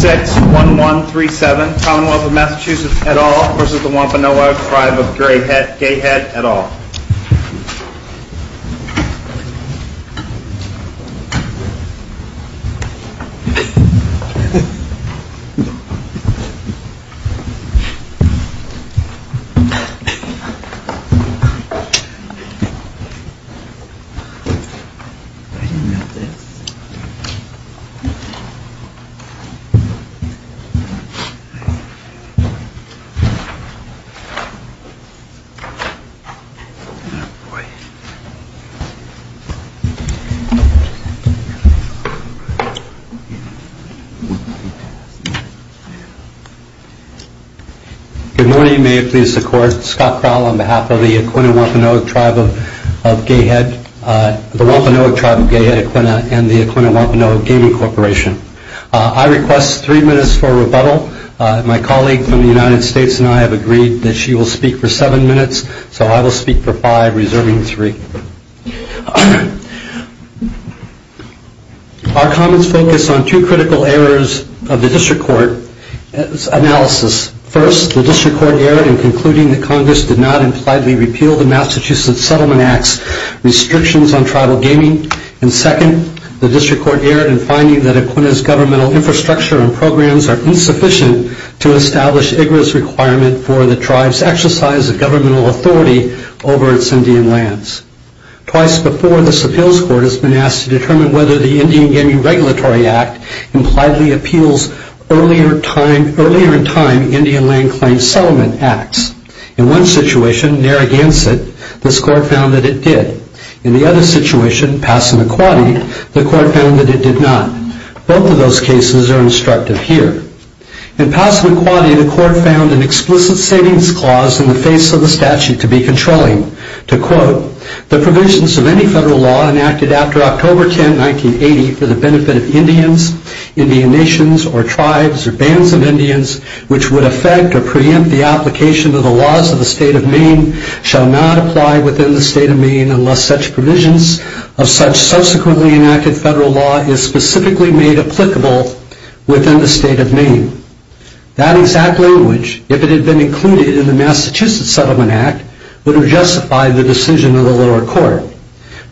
61137 Commonwealth of Massachusetts et al. v. Wampanoag Tribe of Gay Head et al. Good morning, may it please the court, Scott Crowell on behalf of the Wampanoag Tribe of Gay Head, the Wampanoag Tribe of Gay Head, and the Wampanoag Gaming Corporation. I request three minutes for rebuttal. My colleague from the United States and I have agreed that she will speak for seven minutes, so I will speak for five, reserving three. Our comments focus on two critical errors of the District Court's analysis. First, the District Court erred in concluding that Congress did not impliedly repeal the Massachusetts Settlement Act's restrictions on tribal gaming. Second, the District Court erred in finding that Aquinnah's governmental infrastructure and programs are insufficient to establish IGARA's requirement for the tribe's exercise of governmental authority over its Indian lands. Twice before, the Supil's Court has been asked to determine whether the Indian Gaming Regulatory Act impliedly appeals earlier-in-time Indian land claims settlement acts. In one situation, Narragansett, this Court found that it did. In the other situation, Passamaquoddy, the Court found that it did not. Both of those cases are instructive here. In Passamaquoddy, the Court found an explicit savings clause in the face of the statute to be controlling. To quote,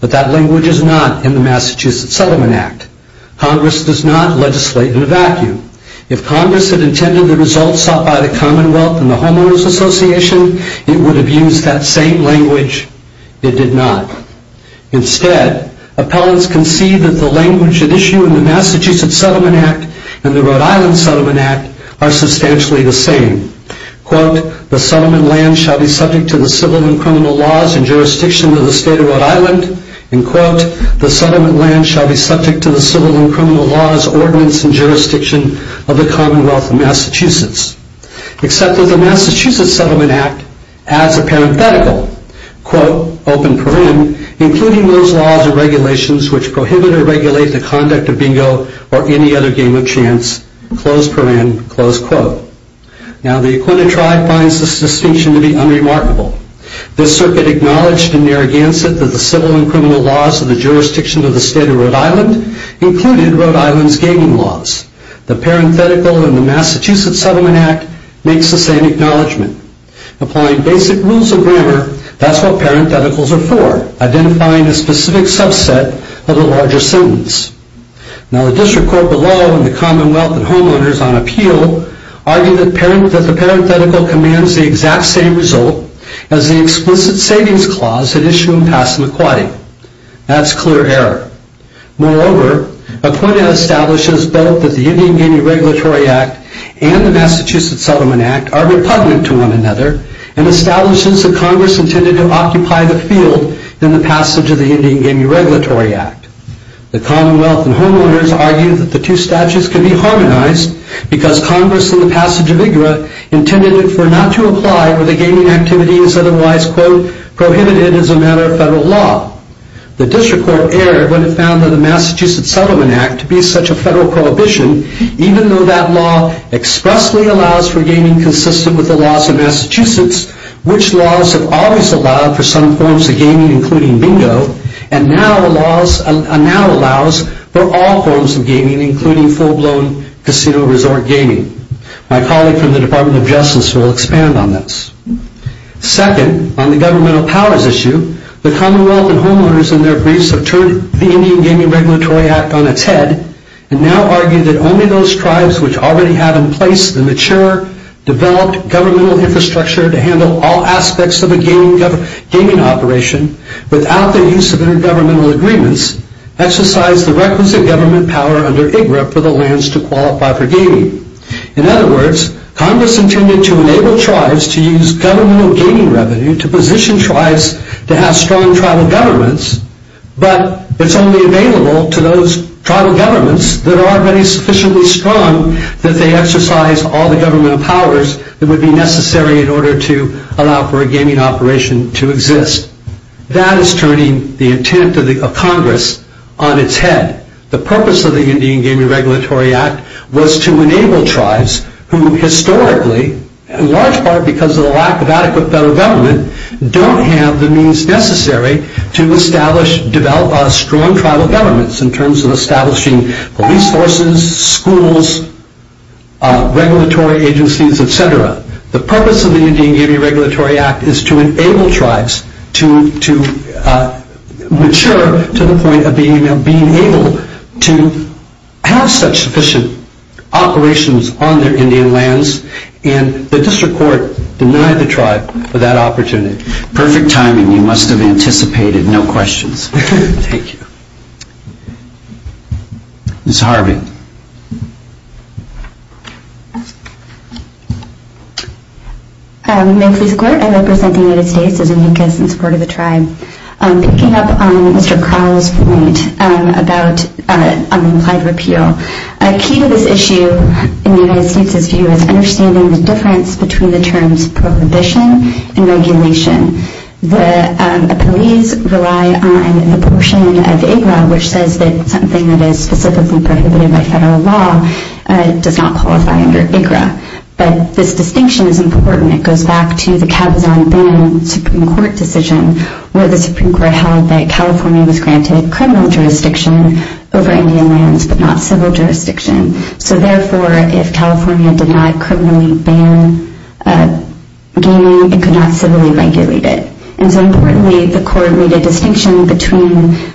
But that language is not in the Massachusetts Settlement Act. Congress does not legislate in a vacuum. If Congress had intended the results sought by the Commonwealth and the Homeowners Association, it would have used that same language. It did not. Instead, appellants concede that the language at issue in the Massachusetts Settlement Act and the Rhode Island Settlement Act are substantially the same. Quote, The settlement land shall be subject to the civil and criminal laws and jurisdiction of the State of Rhode Island. And quote, The settlement land shall be subject to the civil and criminal laws, ordinance, and jurisdiction of the Commonwealth of Massachusetts. Except that the Massachusetts Settlement Act adds a parenthetical. Quote, Open paren, including those laws and regulations which prohibit or regulate the conduct of bingo or any other game of chance. Close paren, close quote. The Aquinnah tribe finds this distinction to be unremarkable. This circuit acknowledged in Narragansett that the civil and criminal laws of the jurisdiction of the State of Rhode Island included Rhode Island's gaming laws. The parenthetical in the Massachusetts Settlement Act makes the same acknowledgement. Applying basic rules of grammar, that's what parentheticals are for, identifying a specific subset of a larger sentence. Now the district court below and the Commonwealth and homeowners on appeal argue that the parenthetical commands the exact same result as the explicit savings clause that issued in Passamaquoddy. That's clear error. Moreover, Aquinnah establishes both that the Indian Gaming Regulatory Act and the Massachusetts Settlement Act are repugnant to one another and establishes that Congress intended to occupy the field in the passage of the Indian Gaming Regulatory Act. The Commonwealth and homeowners argue that the two statutes can be harmonized because Congress in the passage of IGRA intended for not to apply where the gaming activity is otherwise, quote, prohibited as a matter of federal law. The district court erred when it found that the Massachusetts Settlement Act to be such a federal prohibition even though that law expressly allows for gaming consistent with the laws of Massachusetts which laws have always allowed for some forms of gaming including bingo and now allows for all forms of gaming including full-blown casino resort gaming. My colleague from the Department of Justice will expand on this. Second, on the governmental powers issue, the Commonwealth and homeowners in their briefs have turned the Indian Gaming Regulatory Act on its head and now argue that only those tribes which already have in place the mature, developed governmental infrastructure to handle all aspects of a gaming operation without the use of intergovernmental agreements exercise the requisite government power under IGRA for the lands to qualify for gaming. In other words, Congress intended to enable tribes to use governmental gaming revenue to position tribes to have strong tribal governments but it's only available to those tribal governments that are already sufficiently strong that they exercise all the governmental powers that would be necessary in order to allow for a gaming operation to exist. That is turning the intent of Congress on its head. The purpose of the Indian Gaming Regulatory Act was to enable tribes who historically, in large part because of the lack of adequate federal government, don't have the means necessary to establish, develop strong tribal governments in terms of establishing police forces, schools, regulatory agencies, etc. The purpose of the Indian Gaming Regulatory Act is to enable tribes to mature to the point of being able to have such sufficient operations on their Indian lands and the district court denied the tribe for that opportunity. Perfect timing. You must have anticipated. No questions. Thank you. Ms. Harvey. May it please the court, I represent the United States as a NICAS in support of the tribe. Picking up on Mr. Crowell's point about implied repeal, a key to this issue in the United States' view is understanding the difference between the terms prohibition and regulation. The police rely on the portion of IGRA which says that something that is specifically prohibited by federal law does not qualify under IGRA. But this distinction is important. It goes back to the Cabazon-Boone Supreme Court decision where the Supreme Court held that California was granted criminal jurisdiction over Indian lands but not civil jurisdiction. So therefore, if California did not criminally ban gaming, it could not civilly regulate it. And so importantly, the court made a distinction between,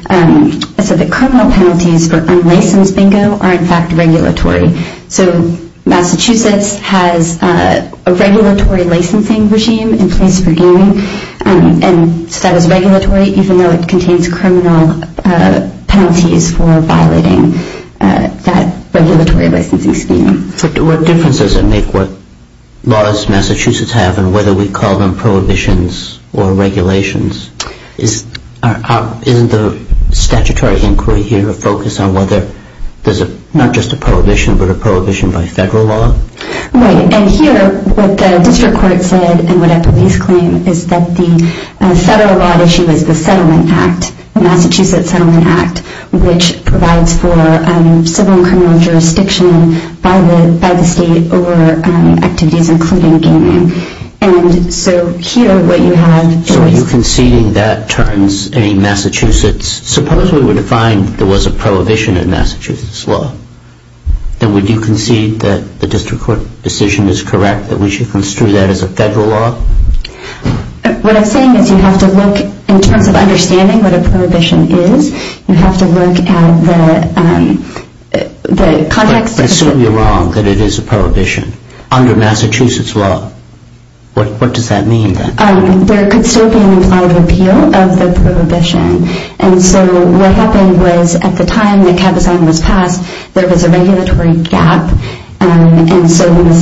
it said that criminal penalties for unlicensed bingo are in fact regulatory. So Massachusetts has a regulatory licensing regime in place for gaming. And so that is regulatory even though it contains criminal penalties for violating that regulatory licensing scheme. But what difference does it make what laws Massachusetts have and whether we call them prohibitions or regulations? Isn't the statutory inquiry here a focus on whether there's not just a prohibition but a prohibition by federal law? Right. And here, what the district court said and what a police claim is that the federal law issue is the settlement act, the Massachusetts Settlement Act, which provides for civil and criminal jurisdiction by the state over activities including gaming. And so here what you have is- So are you conceding that turns a Massachusetts- suppose we were to find there was a prohibition in Massachusetts law, then would you concede that the district court decision is correct that we should construe that as a federal law? What I'm saying is you have to look in terms of understanding what a prohibition is. You have to look at the context- But you're wrong that it is a prohibition under Massachusetts law. What does that mean then? There could still be an implied repeal of the prohibition. And so what happened was at the time that Cabazon was passed, there was a regulatory gap. And so the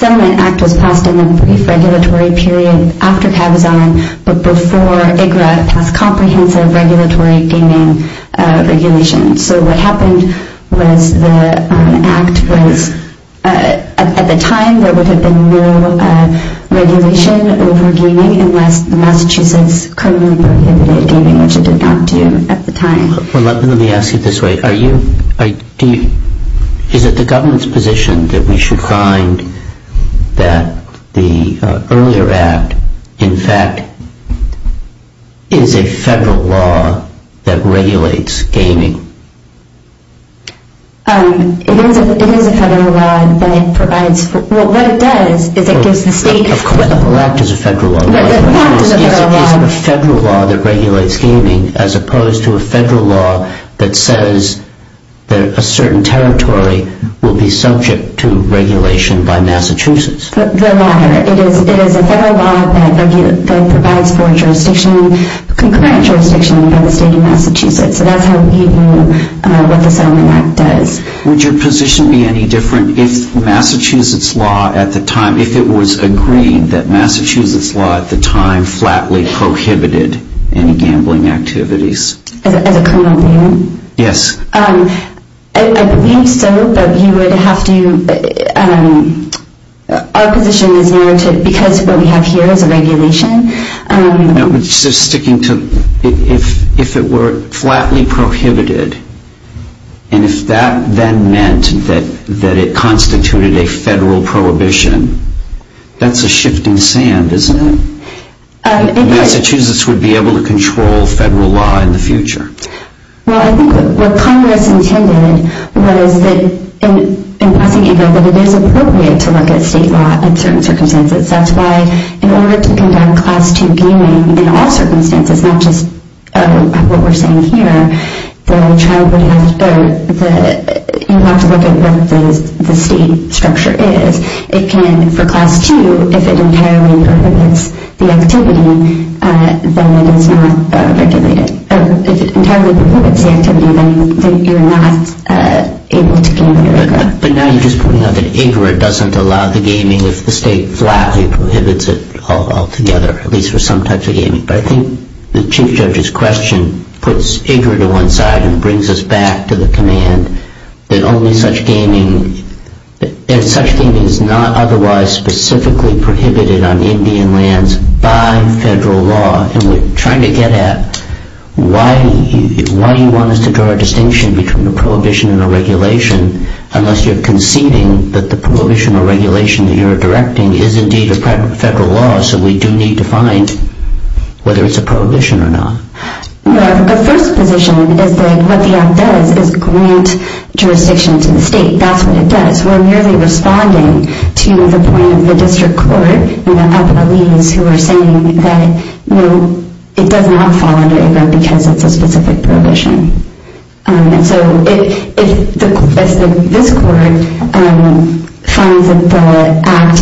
settlement act was passed in a brief regulatory period after Cabazon, but before IGRA passed comprehensive regulatory gaming regulations. So what happened was the act was- Let me ask you this way. Is it the government's position that we should find that the earlier act, in fact, is a federal law that regulates gaming? It is a federal law, but it provides- Well, what it does is it gives the state- The whole act is a federal law. Is it a federal law that regulates gaming as opposed to a federal law that says that a certain territory will be subject to regulation by Massachusetts? The law. It is a federal law that provides for jurisdiction, concurrent jurisdiction by the state of Massachusetts. So that's how we view what the settlement act does. Would your position be any different if Massachusetts law at the time, if it was agreed that Massachusetts law at the time flatly prohibited any gambling activities? As a criminal lawyer? Yes. I think so, but you would have to- Our position is more to- Because what we have here is a regulation. Sticking to- if it were flatly prohibited, and if that then meant that it constituted a federal prohibition, that's a shifting sand, isn't it? Massachusetts would be able to control federal law in the future. Well, I think what Congress intended was that in passing a bill that it is appropriate to look at state law in certain circumstances. That's why in order to conduct Class II gaming in all circumstances, not just what we're seeing here, the child would have to go- you'd have to look at what the state structure is. It can- for Class II, if it entirely prohibits the activity, then it is not regulated. If it entirely prohibits the activity, then you're not able to game in America. But now you're just pointing out that IGRA doesn't allow the gaming if the state flatly prohibits it altogether, at least for some types of gaming. But I think the Chief Judge's question puts IGRA to one side and brings us back to the command that only such gaming- that such gaming is not otherwise specifically prohibited on Indian lands by federal law. And we're trying to get at why you want us to draw a distinction between a prohibition and a regulation unless you're conceding that the prohibition or regulation that you're directing is indeed a federal law, so we do need to find whether it's a prohibition or not. Well, the first position is that what the act does is grant jurisdiction to the state. That's what it does. We're merely responding to the point of the district court, you know, up in the leaves, who are saying that, you know, it does not fall under IGRA because it's a specific prohibition. And so if this court finds that the act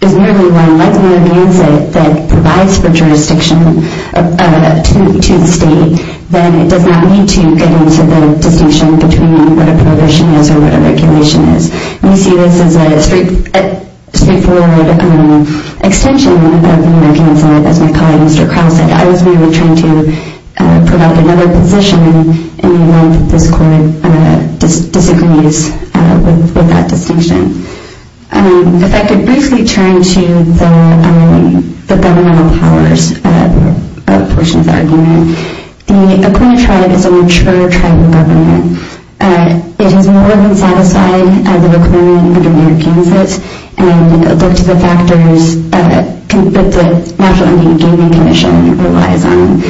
is merely one- let's say it provides for jurisdiction to the state, then it does not need to get into the distinction between what a prohibition is or what a regulation is. And you see this as a straightforward extension of the American Insight. As my colleague, Mr. Crowl, said, I was merely trying to provide another position in the event that this court disagrees with that distinction. If I could briefly turn to the governmental powers portion of the argument. The Aquinnah Tribe is a mature tribe in government. It is more than satisfied of the reclaiming of American Insights and looked at the factors that the National Indian Gaming Commission relies on.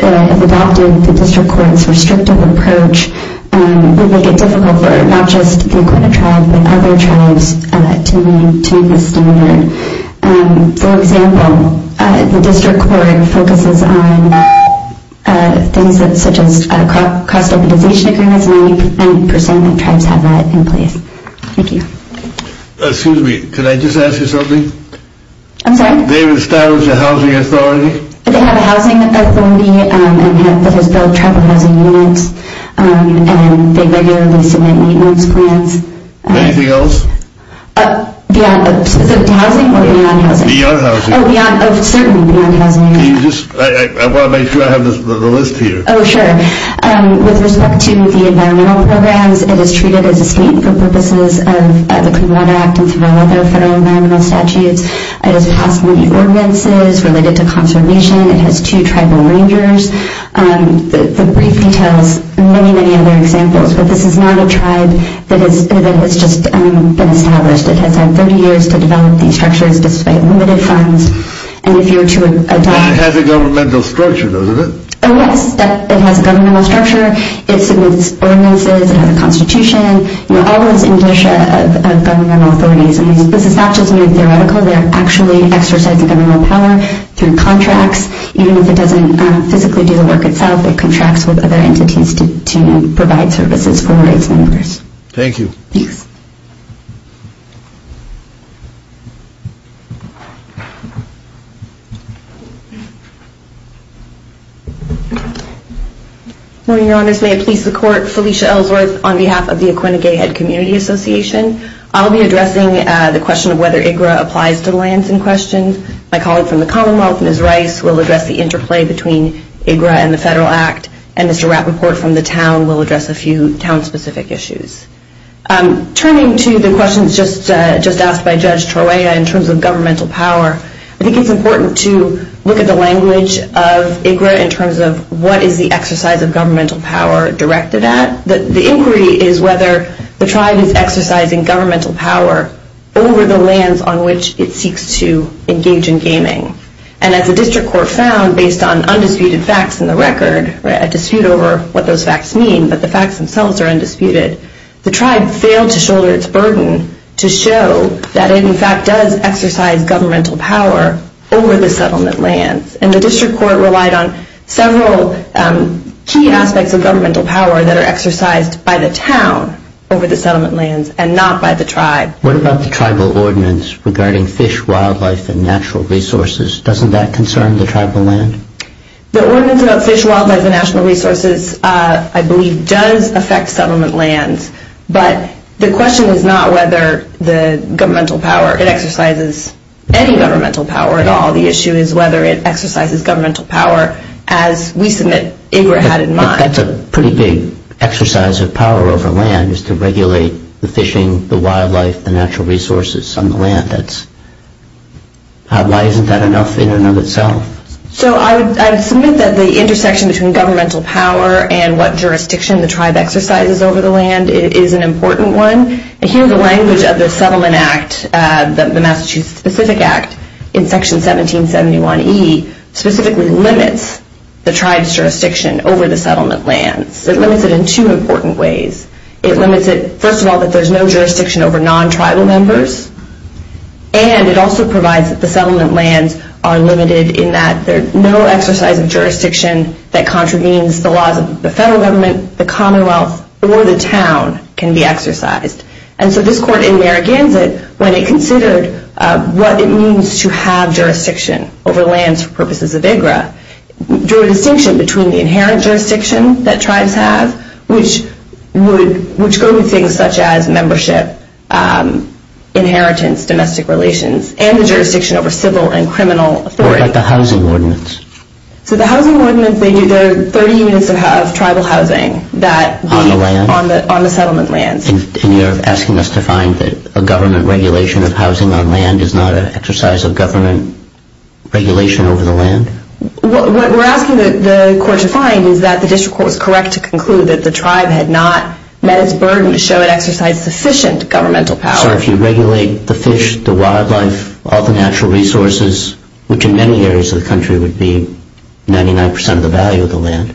If adopted, the district court's restrictive approach would make it difficult for not just the Aquinnah Tribe but other tribes to meet this standard. For example, the district court focuses on things such as cross-stabilization agreements. 90% of tribes have that in place. Thank you. Excuse me. Could I just ask you something? I'm sorry? Do they have a status as a housing authority? They have a housing authority that has built tribal housing units. They regularly submit maintenance plans. Anything else? Is it housing or beyond housing? Beyond housing. Oh, certainly beyond housing. I want to make sure I have the list here. Oh, sure. With respect to the environmental programs, it is treated as a state for purposes of the Clean Water Act and through all other federal environmental statutes. It has passed many ordinances related to conservation. It has two tribal rangers. The brief details many, many other examples. But this is not a tribe that has just been established. It has had 30 years to develop these structures despite limited funds. And if you were to adopt it… It has a governmental structure, doesn't it? Oh, yes. It has a governmental structure. It submits ordinances. It has a constitution. You're always in the dish of governmental authorities. I mean, this is not just mere theoretical. They're actually exercising governmental power through contracts. Even if it doesn't physically do the work itself, it contracts with other entities to provide services for its members. Thank you. Please. Good morning, Your Honors. May it please the Court, Felicia Ellsworth on behalf of the Aquinnah Gay Head Community Association. I'll be addressing the question of whether IGRA applies to lands in question. My colleague from the Commonwealth, Ms. Rice, will address the interplay between IGRA and the Federal Act. And Mr. Rappaport from the town will address a few town-specific issues. Turning to the questions just asked by Judge Troya in terms of governmental power, I think it's important to look at the language of IGRA in terms of what is the exercise of governmental power directed at. The inquiry is whether the tribe is exercising governmental power over the lands on which it seeks to engage in gaming. And as the district court found, based on undisputed facts in the record, a dispute over what those facts mean, but the facts themselves are undisputed, the tribe failed to shoulder its burden to show that it, in fact, does exercise governmental power over the settlement lands. And the district court relied on several key aspects of governmental power that are exercised by the town over the settlement lands and not by the tribe. What about the tribal ordinance regarding fish, wildlife, and natural resources? Doesn't that concern the tribal land? The ordinance about fish, wildlife, and natural resources, I believe, does affect settlement lands. But the question is not whether the governmental power, it exercises any governmental power at all. The issue is whether it exercises governmental power as we submit IGRA had in mind. That's a pretty big exercise of power over land, is to regulate the fishing, the wildlife, the natural resources on the land. Why isn't that enough in and of itself? So I would submit that the intersection between governmental power and what jurisdiction the tribe exercises over the land is an important one. And here the language of the settlement act, the Massachusetts Specific Act, in section 1771E specifically limits the tribe's jurisdiction over the settlement lands. It limits it in two important ways. It limits it, first of all, that there's no jurisdiction over non-tribal members. And it also provides that the settlement lands are limited in that there's no exercise of jurisdiction that contravenes the laws of the federal government, the commonwealth, or the town can be exercised. And so this court in Narragansett, when it considered what it means to have jurisdiction over lands for purposes of IGRA, drew a distinction between the inherent jurisdiction that tribes have, which go with things such as membership, inheritance, domestic relations, and the jurisdiction over civil and criminal authority. What about the housing ordinance? So the housing ordinance, there are 30 units of tribal housing on the settlement lands. And you're asking us to find that a government regulation of housing on land is not an exercise of government regulation over the land? What we're asking the court to find is that the district court was correct to conclude that the tribe had not met its burden to show it exercised sufficient governmental power. So if you regulate the fish, the wildlife, all the natural resources, which in many areas of the country would be 99% of the value of the land,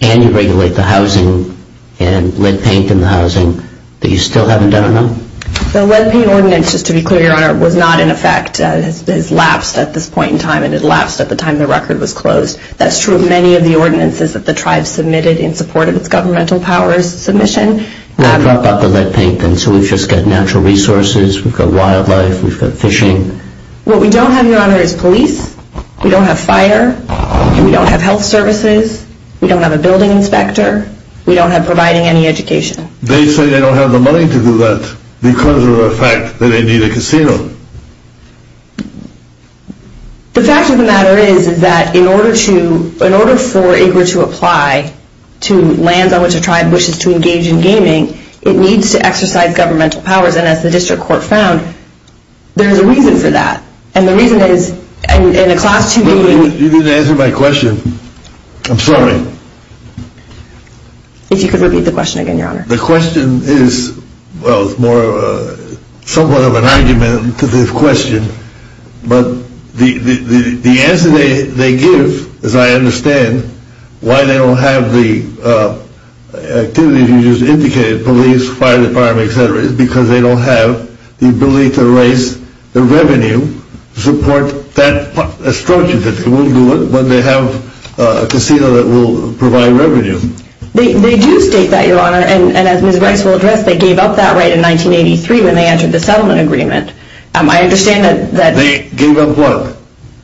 and you regulate the housing and lead paint in the housing, that you still haven't done enough? The lead paint ordinance, just to be clear, Your Honor, was not in effect. It has lapsed at this point in time, and it lapsed at the time the record was closed. That's true of many of the ordinances that the tribe submitted in support of its governmental powers submission. Now drop out the lead paint, then. So we've just got natural resources, we've got wildlife, we've got fishing. What we don't have, Your Honor, is police. We don't have fire. We don't have health services. We don't have a building inspector. We don't have providing any education. They say they don't have the money to do that because of the fact that they need a casino. The fact of the matter is that in order for IGLA to apply to lands on which a tribe wishes to engage in gaming, it needs to exercise governmental powers. And as the district court found, there's a reason for that. And the reason is in a class 2B... You didn't answer my question. I'm sorry. If you could repeat the question again, Your Honor. The question is, well, it's more somewhat of an argument to this question, but the answer they give, as I understand, why they don't have the activities you just indicated, police, fire department, et cetera, is because they don't have the ability to raise the revenue to support that structure. They will do it when they have a casino that will provide revenue. They do state that, Your Honor. And as Ms. Brice will address, they gave up that right in 1983 when they entered the settlement agreement. I understand that... They gave up what?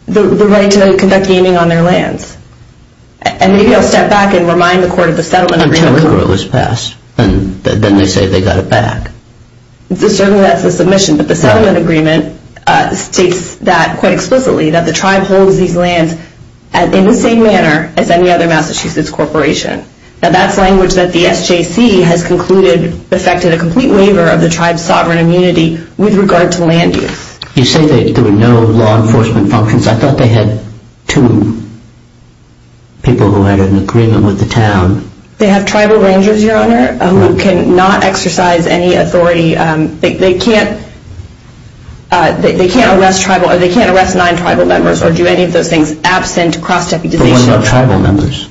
The right to conduct gaming on their lands. And maybe I'll step back and remind the court of the settlement agreement. I don't remember it was passed. Then they say they got it back. Certainly that's a submission, but the settlement agreement states that quite explicitly, that the tribe holds these lands in the same manner as any other Massachusetts corporation. Now, that's language that the SJC has concluded affected a complete waiver of the tribe's sovereign immunity with regard to land use. You say there were no law enforcement functions. I thought they had two people who had an agreement with the town. They have tribal rangers, Your Honor, who cannot exercise any authority. They can't arrest nine tribal members or do any of those things absent cross-deputization. But what about tribal members?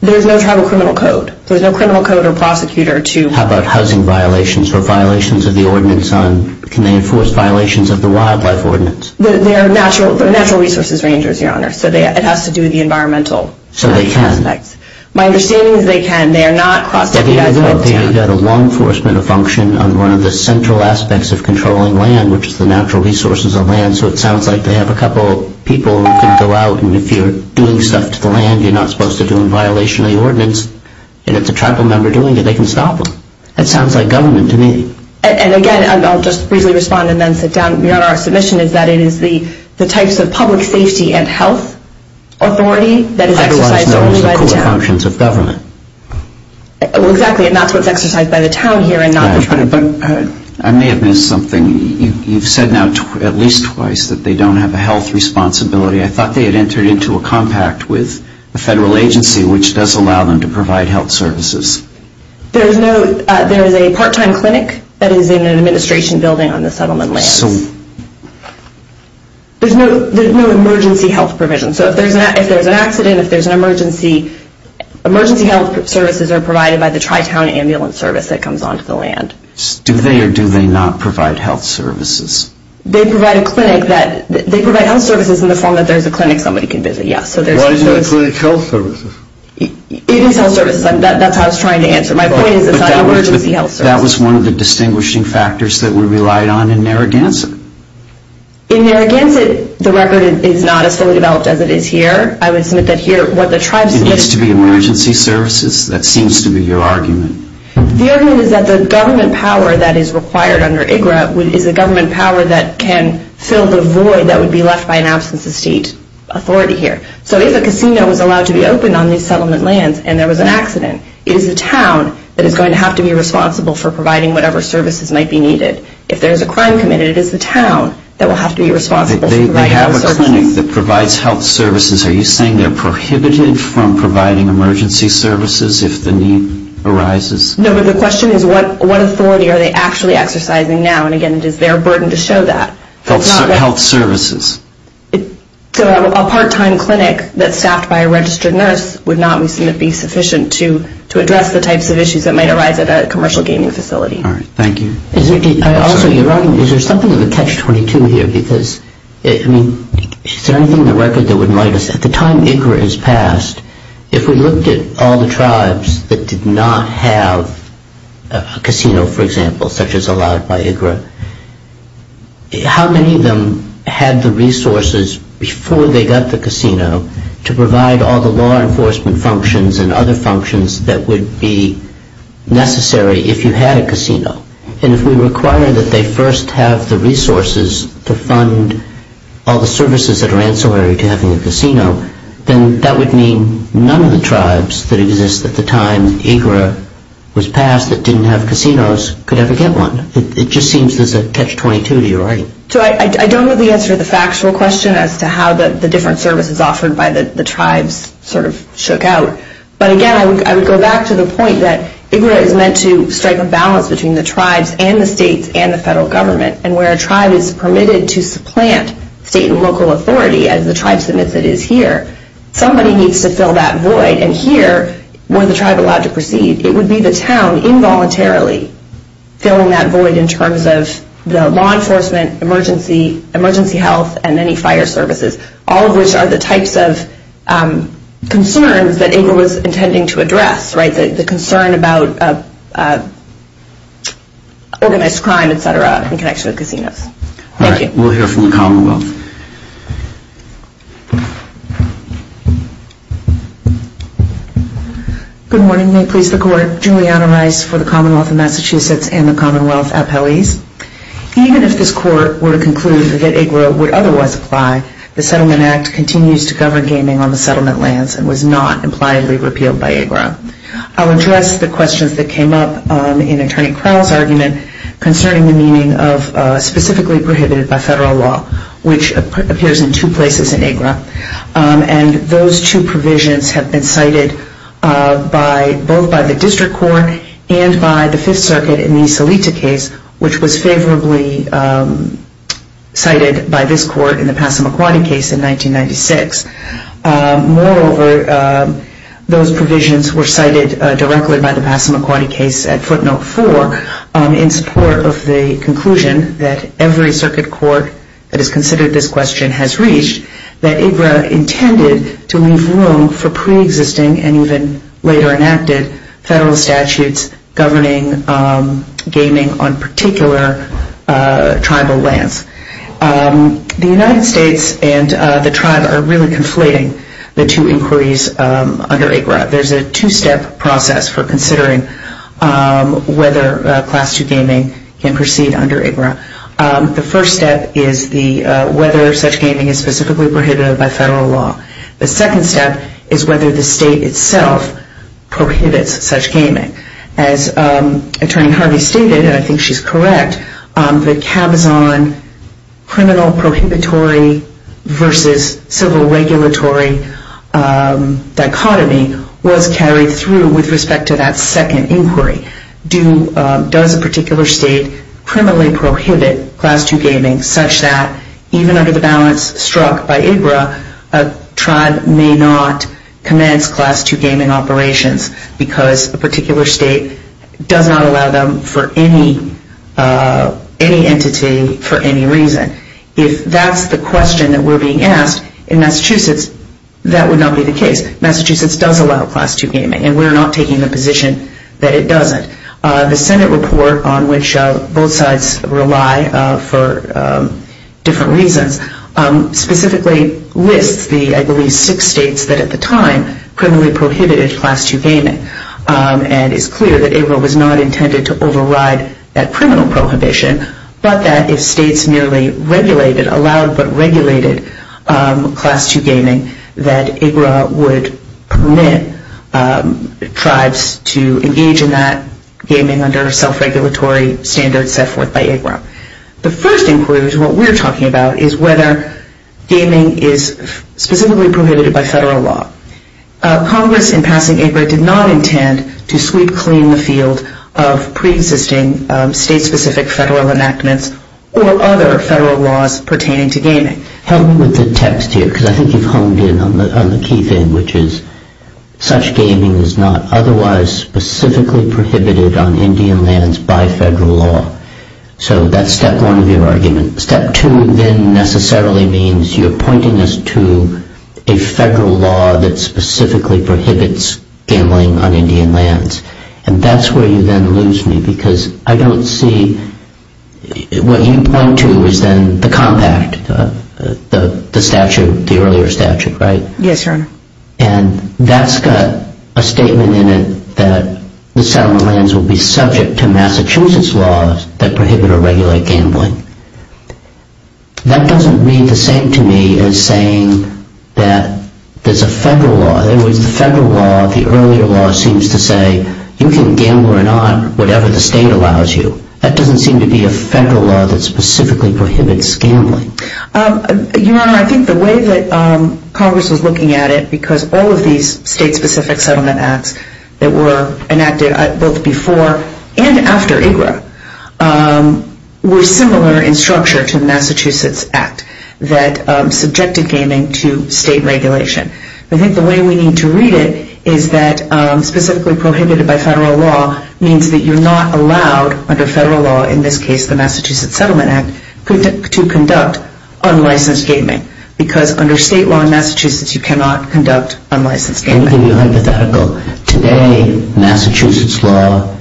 There's no tribal criminal code. There's no criminal code or prosecutor to... How about housing violations or violations of the ordinance? Can they enforce violations of the wildlife ordinance? They're natural resources rangers, Your Honor, so it has to do with the environmental aspects. So they can. My understanding is they can. They are not cross-deputized by the town. They've got a law enforcement function on one of the central aspects of controlling land, which is the natural resources of land. So it sounds like they have a couple of people who can go out, and if you're doing stuff to the land you're not supposed to do in violation of the ordinance, and if the tribal member is doing it, they can stop them. That sounds like government to me. And, again, I'll just briefly respond and then sit down. Your Honor, our submission is that it is the types of public safety and health authority that is exercised only by the town. Otherwise known as the core functions of government. Well, exactly, and that's what's exercised by the town here and not the tribe. But I may have missed something. You've said now at least twice that they don't have a health responsibility. I thought they had entered into a compact with a federal agency, which does allow them to provide health services. There is a part-time clinic that is in an administration building on the settlement land. There's no emergency health provision. So if there's an accident, if there's an emergency, emergency health services are provided by the Tri-Town Ambulance Service that comes onto the land. Do they or do they not provide health services? They provide health services in the form that there's a clinic somebody can visit, yes. Why is it a clinic health services? It is health services. That's how I was trying to answer. My point is it's not an emergency health service. That was one of the distinguishing factors that we relied on in Narragansett. In Narragansett, the record is not as fully developed as it is here. I would submit that here what the tribes get... It needs to be emergency services? That seems to be your argument. The argument is that the government power that is required under IGRA is a government power that can fill the void that would be left by an absence of state authority here. So if a casino was allowed to be opened on these settlement lands and there was an accident, it is the town that is going to have to be responsible for providing whatever services might be needed. If there's a crime committed, it is the town that will have to be responsible for providing services. They have a clinic that provides health services. Are you saying they're prohibited from providing emergency services if the need arises? No, but the question is what authority are they actually exercising now? And, again, it is their burden to show that. Health services. So a part-time clinic that's staffed by a registered nurse would not be sufficient to address the types of issues that might arise at a commercial gaming facility. All right. Thank you. Also, you're right. Is there something to the Catch-22 here? Because, I mean, is there anything in the record that would remind us, at the time IGRA is passed, if we looked at all the tribes that did not have a casino, for example, such as allowed by IGRA, how many of them had the resources before they got the casino to provide all the law enforcement functions and other functions that would be necessary if you had a casino? And if we require that they first have the resources to fund all the services that are ancillary to having a casino, then that would mean none of the tribes that exist at the time IGRA was passed that didn't have casinos could ever get one. It just seems there's a Catch-22 to your argument. So I don't know the answer to the factual question as to how the different services offered by the tribes sort of shook out. But, again, I would go back to the point that IGRA is meant to strike a balance between the tribes and the states and the federal government. And where a tribe is permitted to supplant state and local authority, as the tribe submits it is here, somebody needs to fill that void. And here, were the tribe allowed to proceed, it would be the town involuntarily filling that void in terms of the law enforcement, emergency health, and many fire services, all of which are the types of concerns that IGRA was intending to address, right? The concern about organized crime, et cetera, in connection with casinos. Thank you. All right. We'll hear from the Commonwealth. Good morning. May it please the Court. Juliana Rice for the Commonwealth of Massachusetts and the Commonwealth Appellees. Even if this Court were to conclude that IGRA would otherwise apply, the Settlement Act continues to govern gaming on the settlement lands and was not impliedly repealed by IGRA. I'll address the questions that came up in Attorney Crowell's argument concerning the meaning of specifically prohibited by federal law, which appears in two places in IGRA. And those two provisions have been cited both by the District Court and by the Fifth Circuit in the Salita case, which was favorably cited by this Court in the Passamaquoddy case in 1996. Moreover, those provisions were cited directly by the Passamaquoddy case at footnote four in support of the conclusion that every circuit court that has considered this question has reached, that IGRA intended to leave room for preexisting and even later enacted federal statutes governing gaming on particular tribal lands. The United States and the tribe are really conflating the two inquiries under IGRA. There's a two-step process for considering whether Class II gaming can proceed under IGRA. The first step is whether such gaming is specifically prohibited by federal law. The second step is whether the state itself prohibits such gaming. As Attorney Harvey stated, and I think she's correct, the Cabazon criminal prohibitory versus civil regulatory dichotomy was carried through with respect to that second inquiry. Does a particular state criminally prohibit Class II gaming such that, even under the balance struck by IGRA, a tribe may not commence Class II gaming operations because a particular state does not allow them for any entity for any reason? If that's the question that we're being asked in Massachusetts, that would not be the case. Massachusetts does allow Class II gaming, and we're not taking the position that it doesn't. The Senate report, on which both sides rely for different reasons, specifically lists the, I believe, six states that at the time criminally prohibited Class II gaming, and it's clear that IGRA was not intended to override that criminal prohibition, but that if states merely regulated, allowed but regulated, Class II gaming, that IGRA would permit tribes to engage in that gaming under self-regulatory standards set forth by IGRA. The first inquiry, which is what we're talking about, is whether gaming is specifically prohibited by federal law. Congress, in passing IGRA, did not intend to sweep clean the field of preexisting state-specific federal enactments or other federal laws pertaining to gaming. Help me with the text here, because I think you've honed in on the key thing, which is such gaming is not otherwise specifically prohibited on Indian lands by federal law. So that's step one of your argument. Step two then necessarily means you're pointing us to a federal law that specifically prohibits gambling on Indian lands, and that's where you then lose me, because I don't see what you point to is then the compact, the statute, the earlier statute, right? Yes, Your Honor. And that's got a statement in it that the settlement lands will be subject to Massachusetts laws that prohibit or regulate gambling. That doesn't read the same to me as saying that there's a federal law. In other words, the federal law, the earlier law, seems to say, you can gamble or not, whatever the state allows you. That doesn't seem to be a federal law that specifically prohibits gambling. Your Honor, I think the way that Congress was looking at it, because all of these state-specific settlement acts that were enacted both before and after IGRA were similar in structure to the Massachusetts Act that subjected gaming to state regulation. I think the way we need to read it is that specifically prohibited by federal law means that you're not allowed under federal law, in this case the Massachusetts Settlement Act, to conduct unlicensed gaming, because under state law in Massachusetts, you cannot conduct unlicensed gaming. Let me give you a hypothetical. Today, Massachusetts law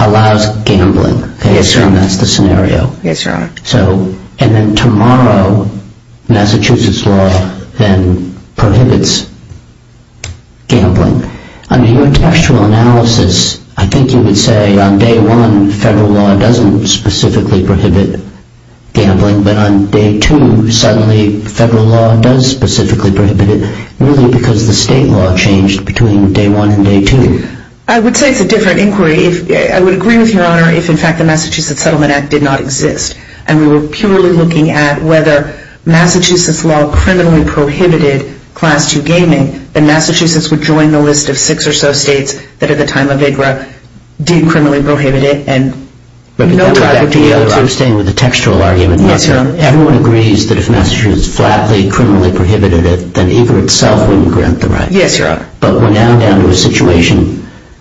allows gambling. Yes, Your Honor. That's the scenario. Yes, Your Honor. And then tomorrow, Massachusetts law then prohibits gambling. Under your textual analysis, I think you would say on day one, federal law doesn't specifically prohibit gambling, but on day two, suddenly federal law does specifically prohibit it, really because the state law changed between day one and day two. I would say it's a different inquiry. I would agree with Your Honor if, in fact, the Massachusetts Settlement Act did not exist and we were purely looking at whether Massachusetts law criminally prohibited Class II gaming, then Massachusetts would join the list of six or so states that at the time of IGRA did criminally prohibit it, and no private deal. But that would back to the other thing with the textual argument. Yes, Your Honor. Everyone agrees that if Massachusetts flatly, criminally prohibited it, then IGRA itself wouldn't grant the right. Yes, Your Honor. But we're now down to a situation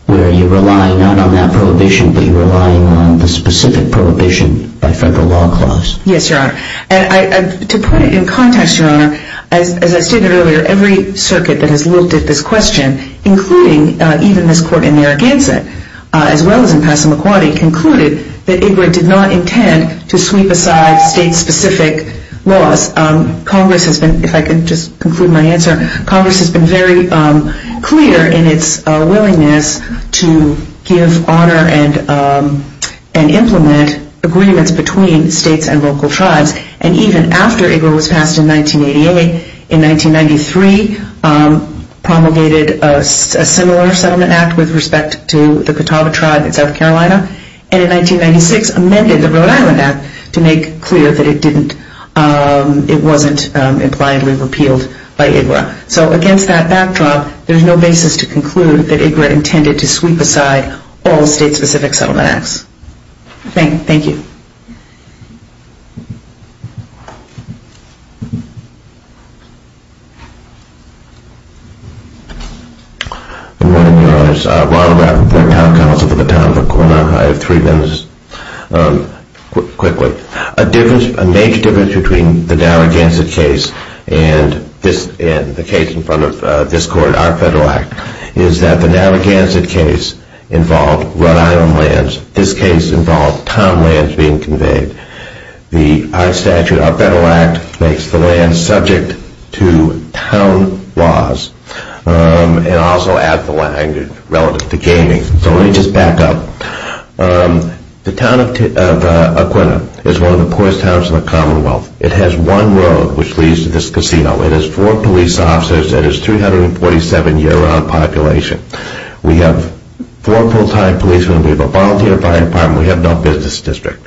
where you rely not on that prohibition, but you're relying on the specific prohibition by federal law clause. Yes, Your Honor. And to put it in context, Your Honor, as I stated earlier, every circuit that has looked at this question, including even this court in Narragansett, as well as in Passamaquoddy, concluded that IGRA did not intend to sweep aside state-specific laws. Congress has been, if I could just conclude my answer, Congress has been very clear in its willingness to give honor and implement agreements between states and local tribes. And even after IGRA was passed in 1988, in 1993 promulgated a similar settlement act with respect to the Catawba tribe in South Carolina, and in 1996 amended the Rhode Island Act to make clear that it didn't, it wasn't impliedly repealed by IGRA. So against that backdrop, there's no basis to conclude that IGRA intended to sweep aside all state-specific settlement acts. Thank you. Good morning, Your Honors. Ronald Raffenthaler, town council for the town of Oklahoma. I have three members. Quickly, a major difference between the Narragansett case and the case in front of this court, our federal act, is that the Narragansett case involved Rhode Island lands. This case involved town lands being conveyed. Our statute, our federal act, makes the land subject to town laws and also adds the language relative to gaming. So let me just back up. The town of Aquinnah is one of the poorest towns in the Commonwealth. It has one road which leads to this casino. It has four police officers. It has a 347-year-round population. We have four full-time policemen. We have a volunteer fire department. We have no business district.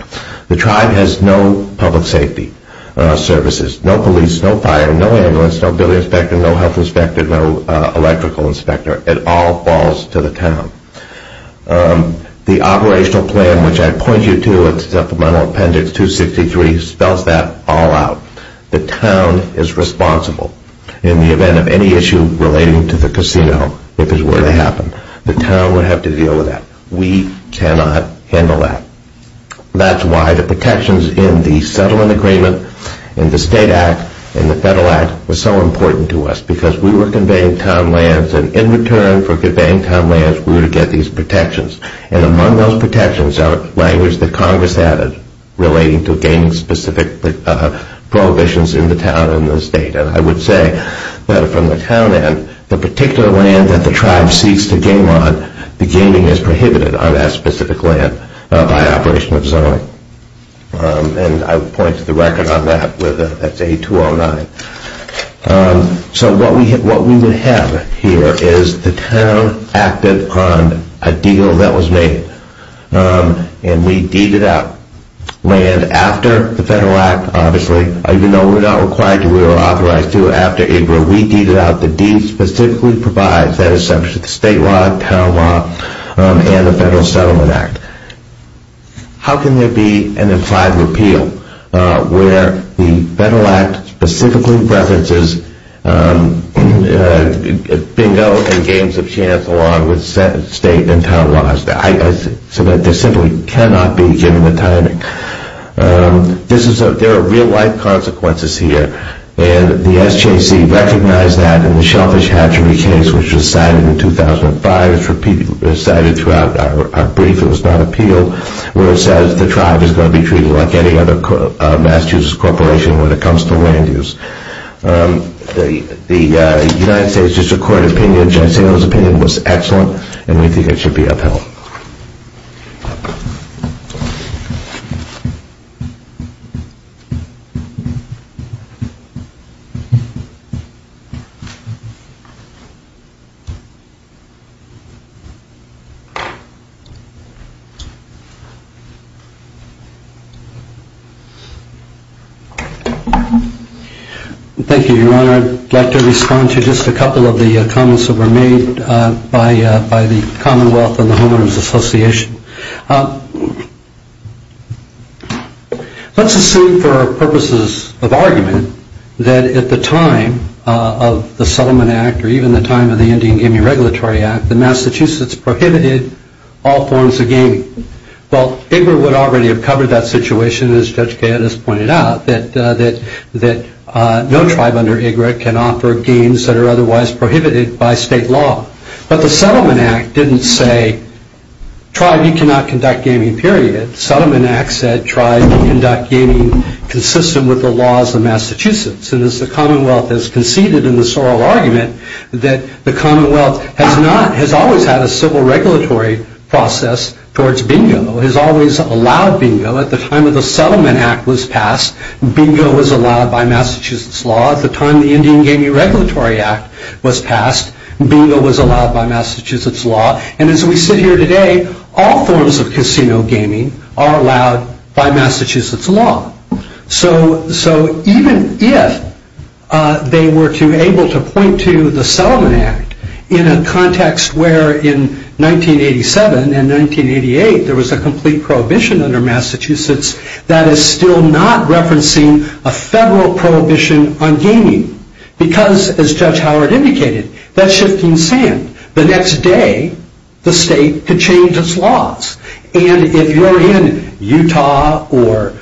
The tribe has no public safety services, no police, no fire, no ambulance, no building inspector, no health inspector, no electrical inspector. It all falls to the town. The operational plan, which I point you to at supplemental appendix 263, spells that all out. The town is responsible in the event of any issue relating to the casino, if it were to happen. The town would have to deal with that. We cannot handle that. That's why the protections in the settlement agreement and the state act and the federal act were so important to us because we were conveying town lands, and in return for conveying town lands, we were to get these protections. And among those protections are language that Congress added relating to gaining specific prohibitions in the town and the state. And I would say that from the town end, the particular land that the tribe seeks to gain on, the gaining is prohibited on that specific land by operation of zoning. And I would point to the record on that. That's 8209. So what we would have here is the town acted on a deal that was made, and we deeded out land after the federal act, obviously. Even though we're not required to, we were authorized to after April, we deeded out the deed specifically provides that assumption, the state law, town law, and the federal settlement act. How can there be an implied repeal where the federal act specifically references bingo and games of chance along with state and town laws? There simply cannot be given a time. There are real life consequences here, and the SJC recognized that in the Shellfish Hatchery case, which was cited in 2005. It was cited throughout our brief. It was not appealed. So where it says the tribe is going to be treated like any other Massachusetts corporation when it comes to land use. The United States District Court opinion, Judge Sandel's opinion was excellent, and we think it should be upheld. Thank you, Your Honor. I'd like to respond to just a couple of the comments that were made by the Commonwealth and the Homeowners Association. Let's assume for purposes of argument that at the time of the settlement act or even the time of the Indian Game Regulatory Act, the Massachusetts prohibited all forms of gaming. Well, IGRA would already have covered that situation, as Judge Kayette has pointed out, that no tribe under IGRA can offer games that are otherwise prohibited by state law. But the settlement act didn't say, tribe, you cannot conduct gaming, period. The settlement act said, tribe, you conduct gaming consistent with the laws of Massachusetts. And as the Commonwealth has conceded in the Sorrell argument, that the Commonwealth has always had a civil regulatory process towards bingo, has always allowed bingo. At the time of the settlement act was passed, bingo was allowed by Massachusetts law. At the time the Indian Game Regulatory Act was passed, bingo was allowed by Massachusetts law. And as we sit here today, all forms of casino gaming are allowed by Massachusetts law. So even if they were able to point to the settlement act in a context where in 1987 and 1988, there was a complete prohibition under Massachusetts, that is still not referencing a federal prohibition on gaming. Because as Judge Howard indicated, that's shifting sand. The next day, the state could change its laws. And if you're in Utah or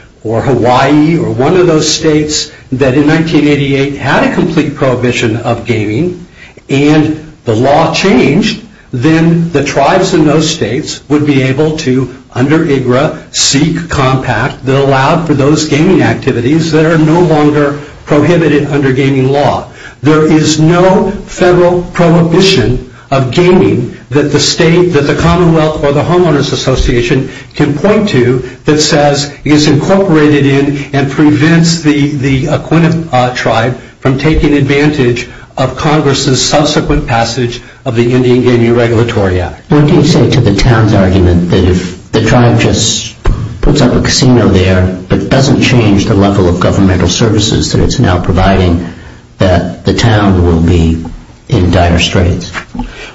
Hawaii or one of those states that in 1988 had a complete prohibition of gaming, and the law changed, then the tribes in those states would be able to, under IGRA, seek compact that allowed for those gaming activities that are no longer prohibited under gaming law. There is no federal prohibition of gaming that the Commonwealth or the Homeowners Association can point to that says is incorporated in and prevents the acquainted tribe from taking advantage of Congress's subsequent passage of the Indian Gaming Regulatory Act. What do you say to the town's argument that if the tribe just puts up a casino there but doesn't change the level of governmental services that it's now providing, that the town will be in dire straits?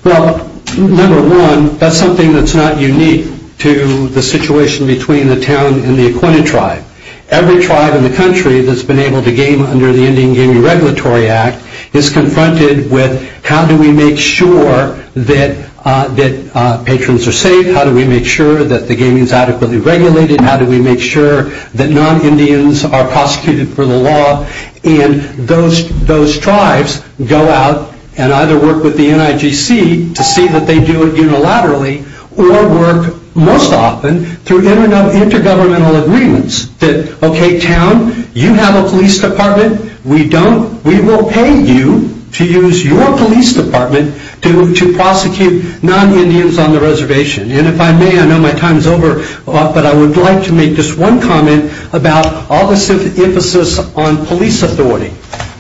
Well, number one, that's something that's not unique to the situation between the town and the acquainted tribe. Every tribe in the country that's been able to game under the Indian Gaming Regulatory Act is confronted with how do we make sure that patrons are safe? How do we make sure that the gaming is adequately regulated? How do we make sure that non-Indians are prosecuted for the law? And those tribes go out and either work with the NIGC to see that they do it unilaterally or work most often through intergovernmental agreements that, okay, town, you have a police department. We don't. We will pay you to use your police department to prosecute non-Indians on the reservation. And if I may, I know my time is over, but I would like to make just one comment about all this emphasis on police authority.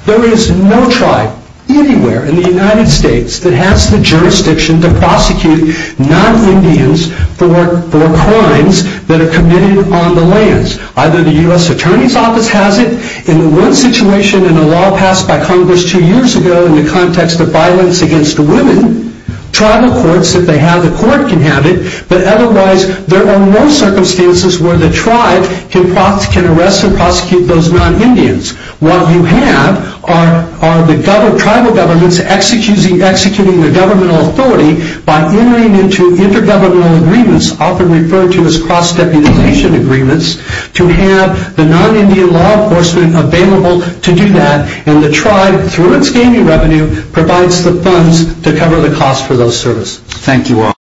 There is no tribe anywhere in the United States that has the jurisdiction to prosecute non-Indians for crimes that are committed on the lands. Either the U.S. Attorney's Office has it. In the one situation in a law passed by Congress two years ago in the context of violence against women, tribal courts, if they have the court, can have it. But otherwise, there are no circumstances where the tribe can arrest and prosecute those non-Indians. What you have are the tribal governments executing their governmental authority by entering into intergovernmental agreements, often referred to as cross-deputization agreements, to have the non-Indian law enforcement available to do that. And the tribe, through its gaming revenue, provides the funds to cover the cost for those services. Thank you all.